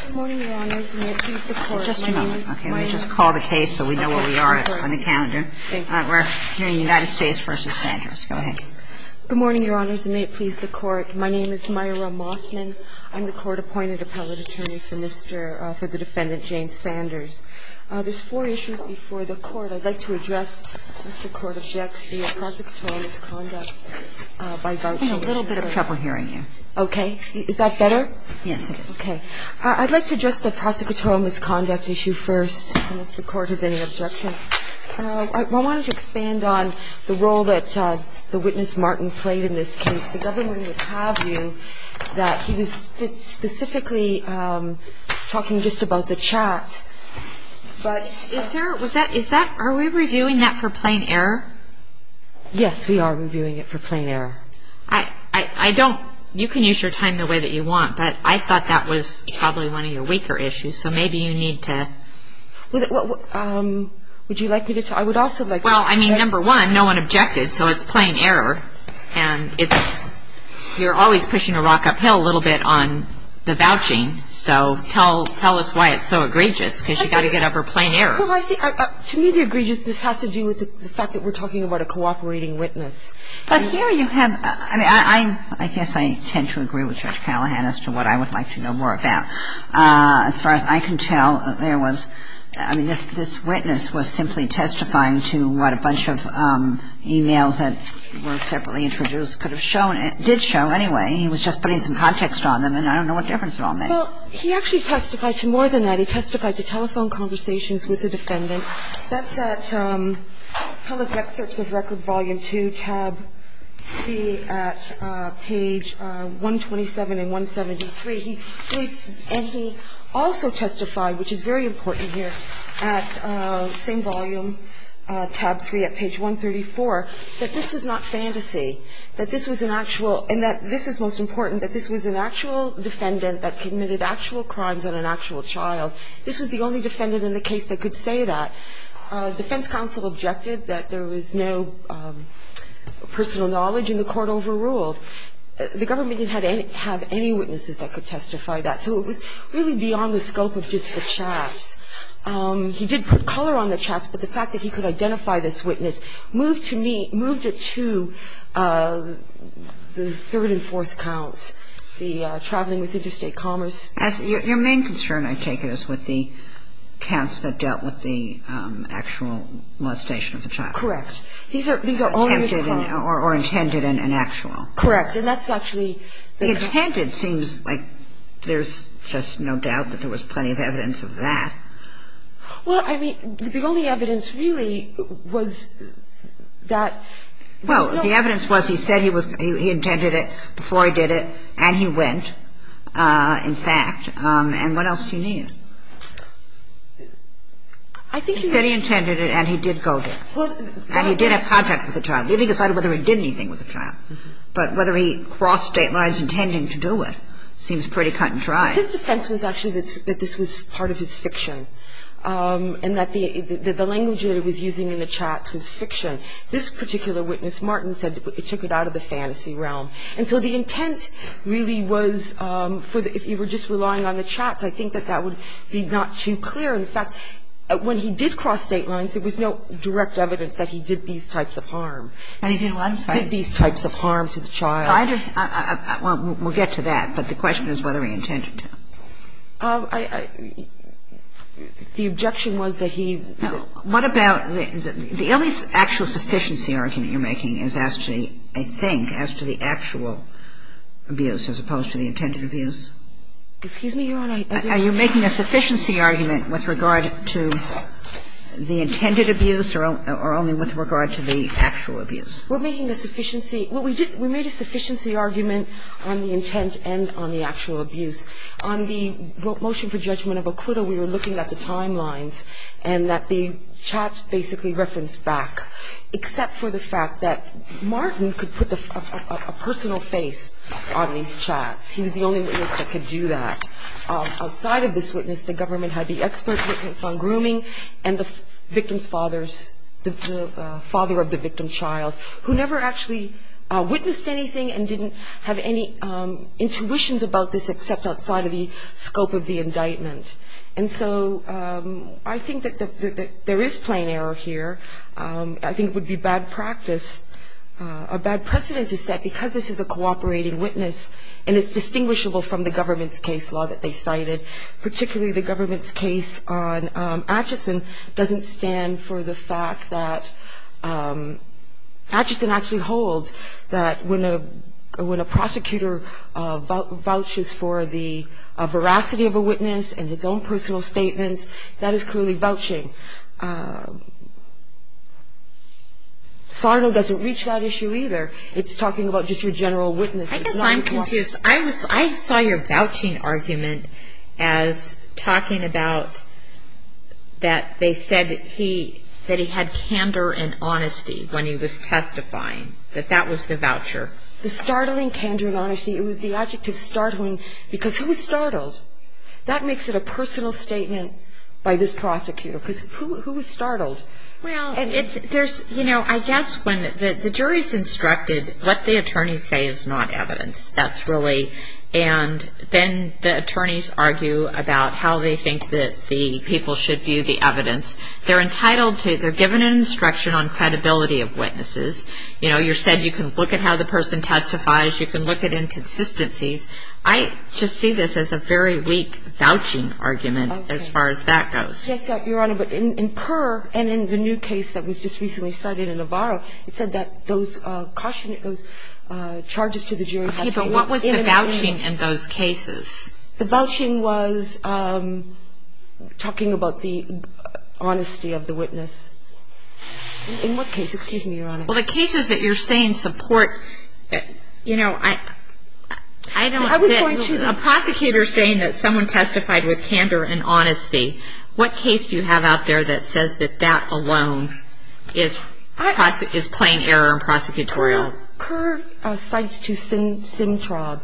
Good morning, Your Honors, and may it please the Court, my name is Myra Mossman. I'm the Court-Appointed Appellate Attorney for Mr. – for the Defendant James Sanders. There's four issues before the Court. I'd like to address the Court of Deaths via prosecutorial misconduct by Garfield. I'm having a little bit of trouble hearing you. Okay. Is that better? Yes, it is. Okay. I'd like to address the prosecutorial misconduct issue first, unless the Court has any objection. I wanted to expand on the role that the witness, Martin, played in this case. The government would have you that he was specifically talking just about the chat, but – Is there – was that – is that – are we reviewing that for plain error? Yes, we are reviewing it for plain error. I – I don't – you can use your time the way that you want, but I thought that was probably one of your weaker issues, so maybe you need to – Would you like me to – I would also like – Well, I mean, number one, no one objected, so it's plain error. And it's – you're always pushing a rock uphill a little bit on the vouching, so tell us why it's so egregious, because you've got to get over plain error. Well, I think – to me, the egregiousness has to do with the fact that we're talking about a cooperating witness. But here you have – I mean, I guess I tend to agree with Judge Callahan as to what I would like to know more about. As far as I can tell, there was – I mean, this witness was simply testifying to what a bunch of e-mails that were separately introduced could have shown – did show, anyway. He was just putting some context on them, and I don't know what difference it all made. Well, he actually testified to more than that. He testified to telephone conversations with the defendant. That's at Pellis Excerpts of Record, Volume 2, Tab 3 at page 127 and 173. And he also testified, which is very important here, at the same volume, Tab 3 at page 134, that this was not fantasy, that this was an actual – and that this is most important, that this was an actual defendant that committed actual crimes on an actual child. This was the only defendant in the case that could say that. The defense counsel objected that there was no personal knowledge, and the court overruled. The government didn't have any witnesses that could testify that. So it was really beyond the scope of just the chats. He did put color on the chats, but the fact that he could identify this witness moved to me – moved it to the third and fourth counts, the traveling with interstate commerce. Your main concern, I take it, is with the counts that dealt with the actual molestation of the child. Correct. These are – these are all in this class. Or intended and actual. Correct. And that's actually the – The intended seems like there's just no doubt that there was plenty of evidence of that. Well, I mean, the only evidence really was that – Well, the evidence was he said he was – he intended it, before he did it, and he went. And he went, in fact. And what else do you need? I think he said he intended it, and he did go there. And he did have contact with the child. He only decided whether he did anything with the child. But whether he crossed state lines intending to do it seems pretty cut and dry. His defense was actually that this was part of his fiction, and that the – that the language that he was using in the chats was fiction. This particular witness, Martin, said it took it out of the fantasy realm. And so the intent really was for the – if you were just relying on the chats, I think that that would be not too clear. In fact, when he did cross state lines, there was no direct evidence that he did these types of harm. And he did one type. He did these types of harm to the child. I just – well, we'll get to that. But the question is whether he intended to. I – the objection was that he – Now, what about the – the only actual sufficiency argument you're making is as to a thing, as to the actual abuse, as opposed to the intended abuse? Excuse me, Your Honor, I didn't – Are you making a sufficiency argument with regard to the intended abuse or only with regard to the actual abuse? We're making a sufficiency – well, we did – we made a sufficiency argument on the intent and on the actual abuse. On the motion for judgment of Okuda, we were looking at the timelines and that the chats basically referenced back, except for the fact that Martin could put a personal face on these chats. He was the only witness that could do that. Outside of this witness, the government had the expert witness on grooming and the victim's father's – the father of the victim's child, who never actually witnessed anything and didn't have any intuitions about this except outside of the scope of the indictment. And so I think that there is plain error here. I think it would be bad practice – a bad precedent to set because this is a cooperating witness and it's distinguishable from the government's case law that they cited, particularly the government's case on Atchison doesn't stand for the fact that – Atchison actually holds that when a prosecutor vouches for the veracity of a witness and his own personal statements, that is clearly vouching. Sarno doesn't reach that issue either. It's talking about just your general witness. I guess I'm confused. I saw your vouching argument as talking about that they said that he had candor and honesty when he was testifying, that that was the voucher. The startling candor and honesty, it was the adjective startling because who was startled? That makes it a personal statement by this prosecutor because who was startled? Well, I guess when the jury's instructed what the attorneys say is not evidence, that's really – and then the attorneys argue about how they think that the people should view the evidence. They're entitled to – they're given an instruction on credibility of witnesses. You know, you're said you can look at how the person testifies, you can look at inconsistencies. I just see this as a very weak vouching argument as far as that goes. Yes, Your Honor, but in Kerr and in the new case that was just recently cited in Navarro, it said that those charges to the jury – Okay, but what was the vouching in those cases? The vouching was talking about the honesty of the witness. In what case? Excuse me, Your Honor. Well, the cases that you're saying support – you know, I don't get – What case do you have out there that says that that alone is plain error and prosecutorial? Kerr cites to Sintrab.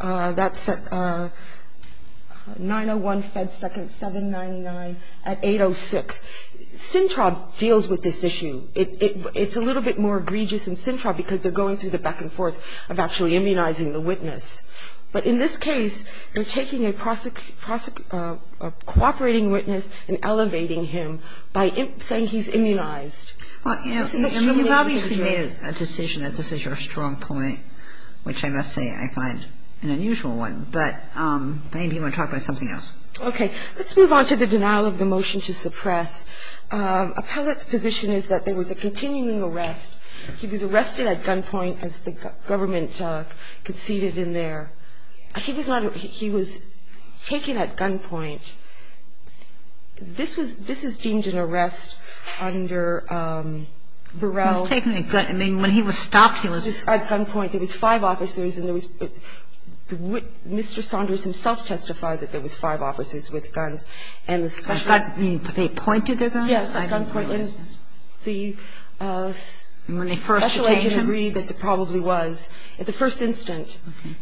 That's 901 Fed Second 799 at 806. Sintrab deals with this issue. It's a little bit more egregious in Sintrab because they're going through the back and forth of actually immunizing the witness. But in this case, they're taking a cooperating witness and elevating him by saying he's immunized. Well, you know, you've obviously made a decision that this is your strong point, which I must say I find an unusual one, but maybe you want to talk about something else. Okay, let's move on to the denial of the motion to suppress. Appellate's position is that there was a continuing arrest. He was arrested at gunpoint as the government conceded in there. He was not – he was taken at gunpoint. This was – this is deemed an arrest under Burrell. He was taken at gun – I mean, when he was stopped, he was – At gunpoint. There was five officers and there was – Mr. Saunders himself testified that there was five officers with guns. And the special – They pointed their guns? Yes, at gunpoint. When the special agent agreed that there probably was, at the first instant,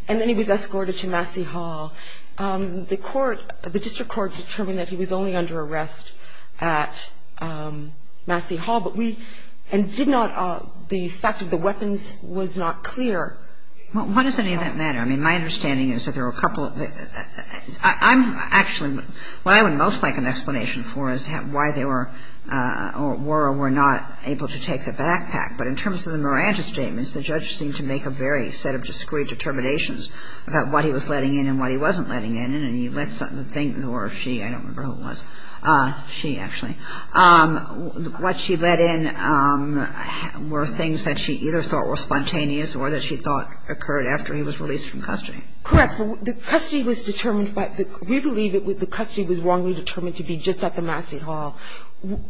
and then he was escorted to Massey Hall, the court – the district court determined that he was only under arrest at Massey Hall. But we – and did not – the fact of the weapons was not clear. Well, why does any of that matter? I mean, my understanding is that there were a couple of – I'm actually – what I would most like an explanation for is why there were or were not able to take the backpack. But in terms of the Marantis statements, the judge seemed to make a very set of discreet determinations about what he was letting in and what he wasn't letting in. And he let something – or she – I don't remember who it was – she, actually. What she let in were things that she either thought were spontaneous or that she thought occurred after he was released from custody. Correct. The custody was determined by – we believe that the custody was wrongly determined to be just at the Massey Hall.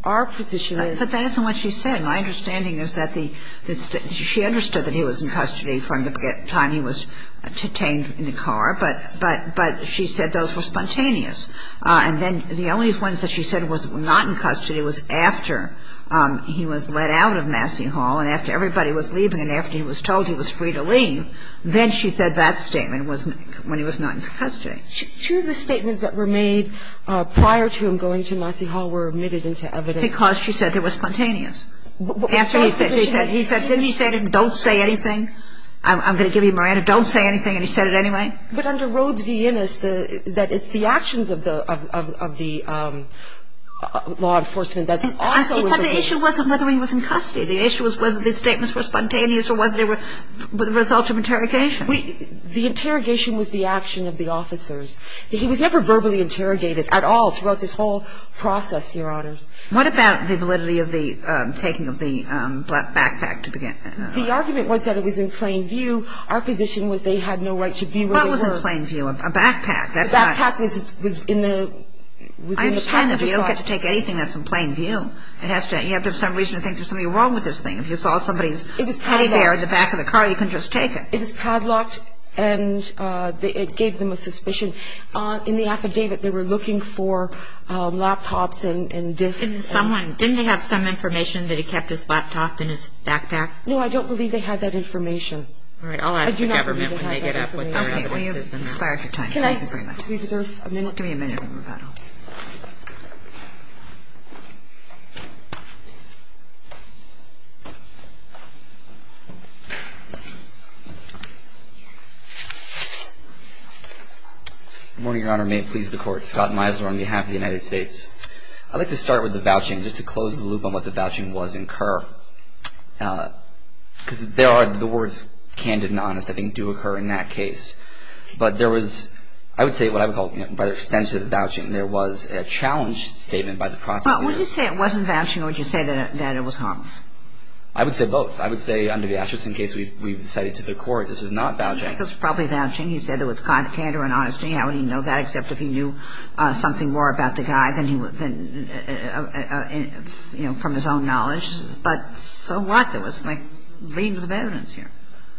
Our position is – But that isn't what she said. My understanding is that the – she understood that he was in custody from the time he was detained in the car. But she said those were spontaneous. And then the only ones that she said was not in custody was after he was let out of Massey Hall and after everybody was leaving and after he was told he was free to leave. Then she said that statement was when he was not in custody. She – two of the statements that were made prior to him going to Massey Hall were omitted into evidence. Because she said they were spontaneous. After he said – he said – didn't he say to him, don't say anything? I'm going to give you my answer. Don't say anything. And he said it anyway. But under Rhodes v. Innis, the – that it's the actions of the – of the law enforcement that also was – Because the issue wasn't whether he was in custody. The issue was whether the statements were spontaneous or whether they were the result of interrogation. The interrogation was the action of the officers. He was never verbally interrogated at all throughout this whole process, Your Honor. What about the validity of the taking of the backpack to begin with? The argument was that it was in plain view. Our position was they had no right to be where they were. What was in plain view? A backpack. The backpack was in the – was in the passenger slot. I understand that you don't get to take anything that's in plain view. It has to – you have to have some reason to think there's something wrong with this thing. If you saw somebody's teddy bear in the back of the car, you can just take it. It was padlocked, and it gave them a suspicion. In the affidavit, they were looking for laptops and disks. And someone – didn't they have some information that he kept his laptop in his backpack? No, I don't believe they had that information. All right. I'll ask the government when they get up with their evidence. Okay. We have expired for time. Thank you very much. Give me a minute. Good morning, Your Honor. May it please the Court. Scott Meisler on behalf of the United States. I'd like to start with the vouching, just to close the loop on what the vouching was in Kerr. Because there are – the words candid and honest, I think, do occur in that case. But there was – I would say what I would call, you know, by the extent of the vouching, there was a challenge statement by the prosecutor. Would you say it wasn't vouching, or would you say that it was harmless? I would say both. I think it was probably vouching. He said it was candid and honest. How would he know that, except if he knew something more about the guy than he would – you know, from his own knowledge. But so what? There was, like, reams of evidence here.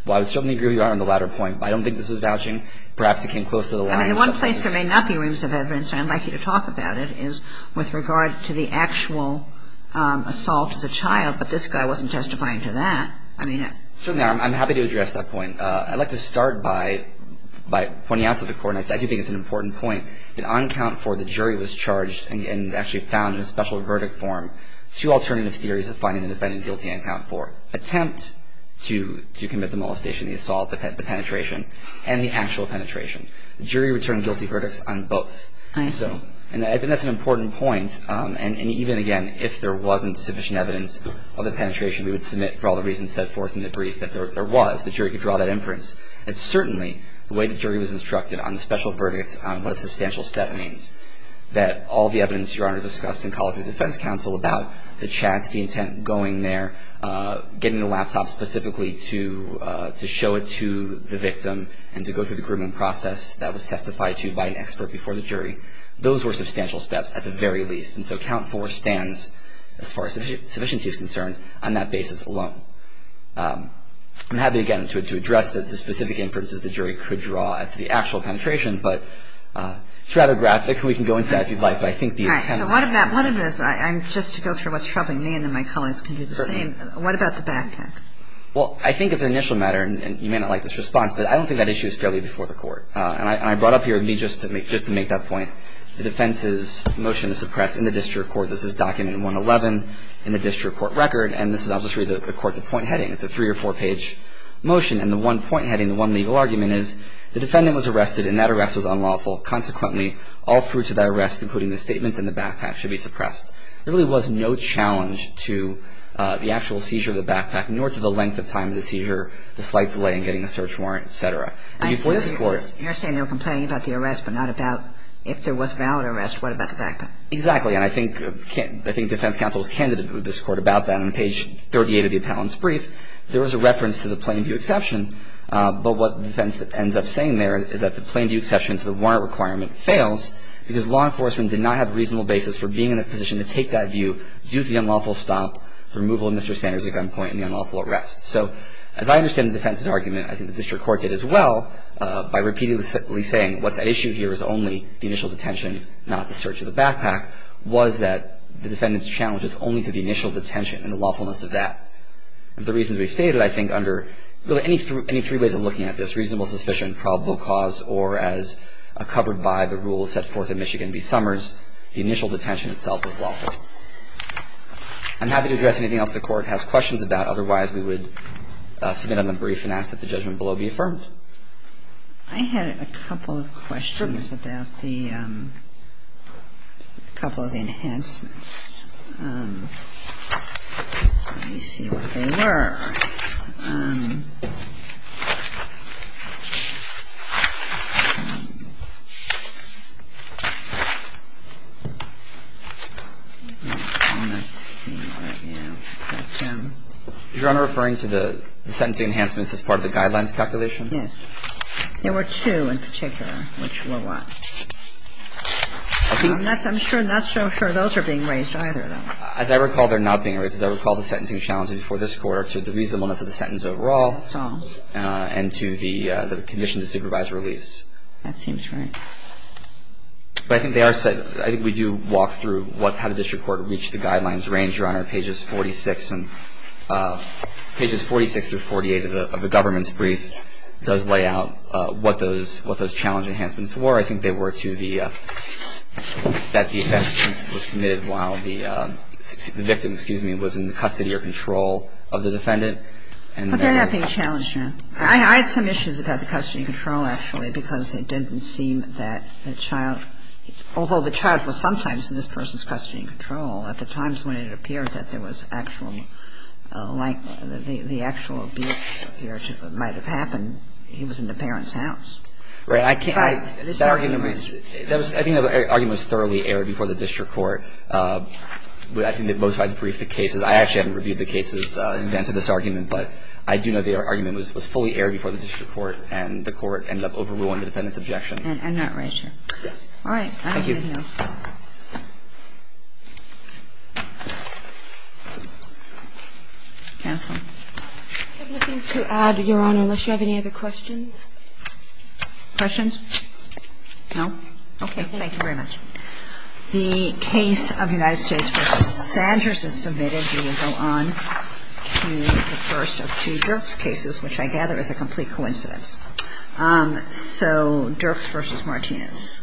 Well, I would certainly agree with you, Your Honor, on the latter point. I don't think this was vouching. Perhaps it came close to the line. I mean, the one place there may not be reams of evidence, and I'd like you to talk about it, is with regard to the actual assault as a child. But this guy wasn't testifying to that. Certainly, I'm happy to address that point. I'd like to start by pointing out to the court, and I do think it's an important point, that on count four, the jury was charged and actually found in a special verdict form two alternative theories of finding the defendant guilty on count four. Attempt to commit the molestation, the assault, the penetration, and the actual penetration. The jury returned guilty verdicts on both. And I think that's an important point. And even, again, if there wasn't sufficient evidence of the penetration, we would submit, for all the reasons set forth in the brief, that there was, the jury could draw that inference. And certainly, the way the jury was instructed on the special verdict, on what a substantial step means, that all the evidence, Your Honor, discussed in the College of Defense counsel about the chat, the intent, going there, getting the laptop specifically to show it to the victim, and to go through the grooming process that was testified to by an expert before the jury, those were substantial steps, at the very least. And so count four stands, as far as sufficiency is concerned, on that basis alone. I'm happy, again, to address the specific inferences the jury could draw as to the actual penetration. But it's rather graphic. We can go into that if you'd like. But I think the intent is important. All right. So what about, just to go through what's troubling me, and then my colleagues can do the same, what about the backpack? Well, I think as an initial matter, and you may not like this response, but I don't think that issue is fairly before the Court. And I brought up here, just to make that point, the defense's motion is suppressed in the district court. This is document 111 in the district court record. And this is obviously the court point heading. It's a three- or four-page motion. And the one point heading, the one legal argument, is the defendant was arrested and that arrest was unlawful. Consequently, all fruits of that arrest, including the statements in the backpack, should be suppressed. There really was no challenge to the actual seizure of the backpack, nor to the length of time of the seizure, the slight delay in getting a search warrant, et cetera. And before this Court ---- If there was valid arrest, what about the backpack? Exactly. And I think defense counsel was candid with this Court about that. On page 38 of the appellant's brief, there was a reference to the plain view exception. But what the defense ends up saying there is that the plain view exception to the warrant requirement fails because law enforcement did not have a reasonable basis for being in a position to take that view due to the unlawful stop, removal of Mr. Sanders at gunpoint, and the unlawful arrest. So as I understand the defense's argument, I think the district court did as well by repeatedly saying what's at issue here is only the initial detention, not the search of the backpack, was that the defendant's challenge is only to the initial detention and the lawfulness of that. The reasons we've stated, I think, under any three ways of looking at this, reasonable suspicion, probable cause, or as covered by the rules set forth in Michigan v. Summers, the initial detention itself is lawful. I'm happy to address anything else the Court has questions about. Otherwise, we would submit on the brief and ask that the judgment below be affirmed. I had a couple of questions about the couple of enhancements. Let me see what they were. You're referring to the sentencing enhancements as part of the guidelines calculation? Yes. There were two in particular which were what? I'm not so sure those are being raised either, though. As I recall, they're not being raised. As I recall, the sentencing challenge before this Court are to the reasonableness of the sentence overall. That's all. And to the condition to supervise release. That seems right. But I think they are set. I think we do walk through how the district court reached the guidelines range, Your Honor. Pages 46 through 48 of the government's brief does lay out what those challenge enhancements were. I think they were to that the offense was committed while the victim was in the custody or control of the defendant. But they're not being challenged, Your Honor. I had some issues about the custody and control, actually, because it didn't seem that the child although the child was sometimes in this person's custody and control, at the times when it appeared that there was actual like the actual abuse that might have happened, he was in the parent's house. Right. I can't. That argument was thoroughly aired before the district court. I think that most of the cases, I actually haven't reviewed the cases in advance of this argument, but I do know the argument was fully aired before the district court and the court ended up overruling the defendant's objection. And not raised here. Yes. All right. Thank you. Counsel. I have nothing to add, Your Honor, unless you have any other questions. Questions? No? Okay. Thank you very much. The case of United States v. Sanders is submitted. We will go on to the first of two Dirks cases, which I gather is a complete coincidence. So Dirks v. Martinez.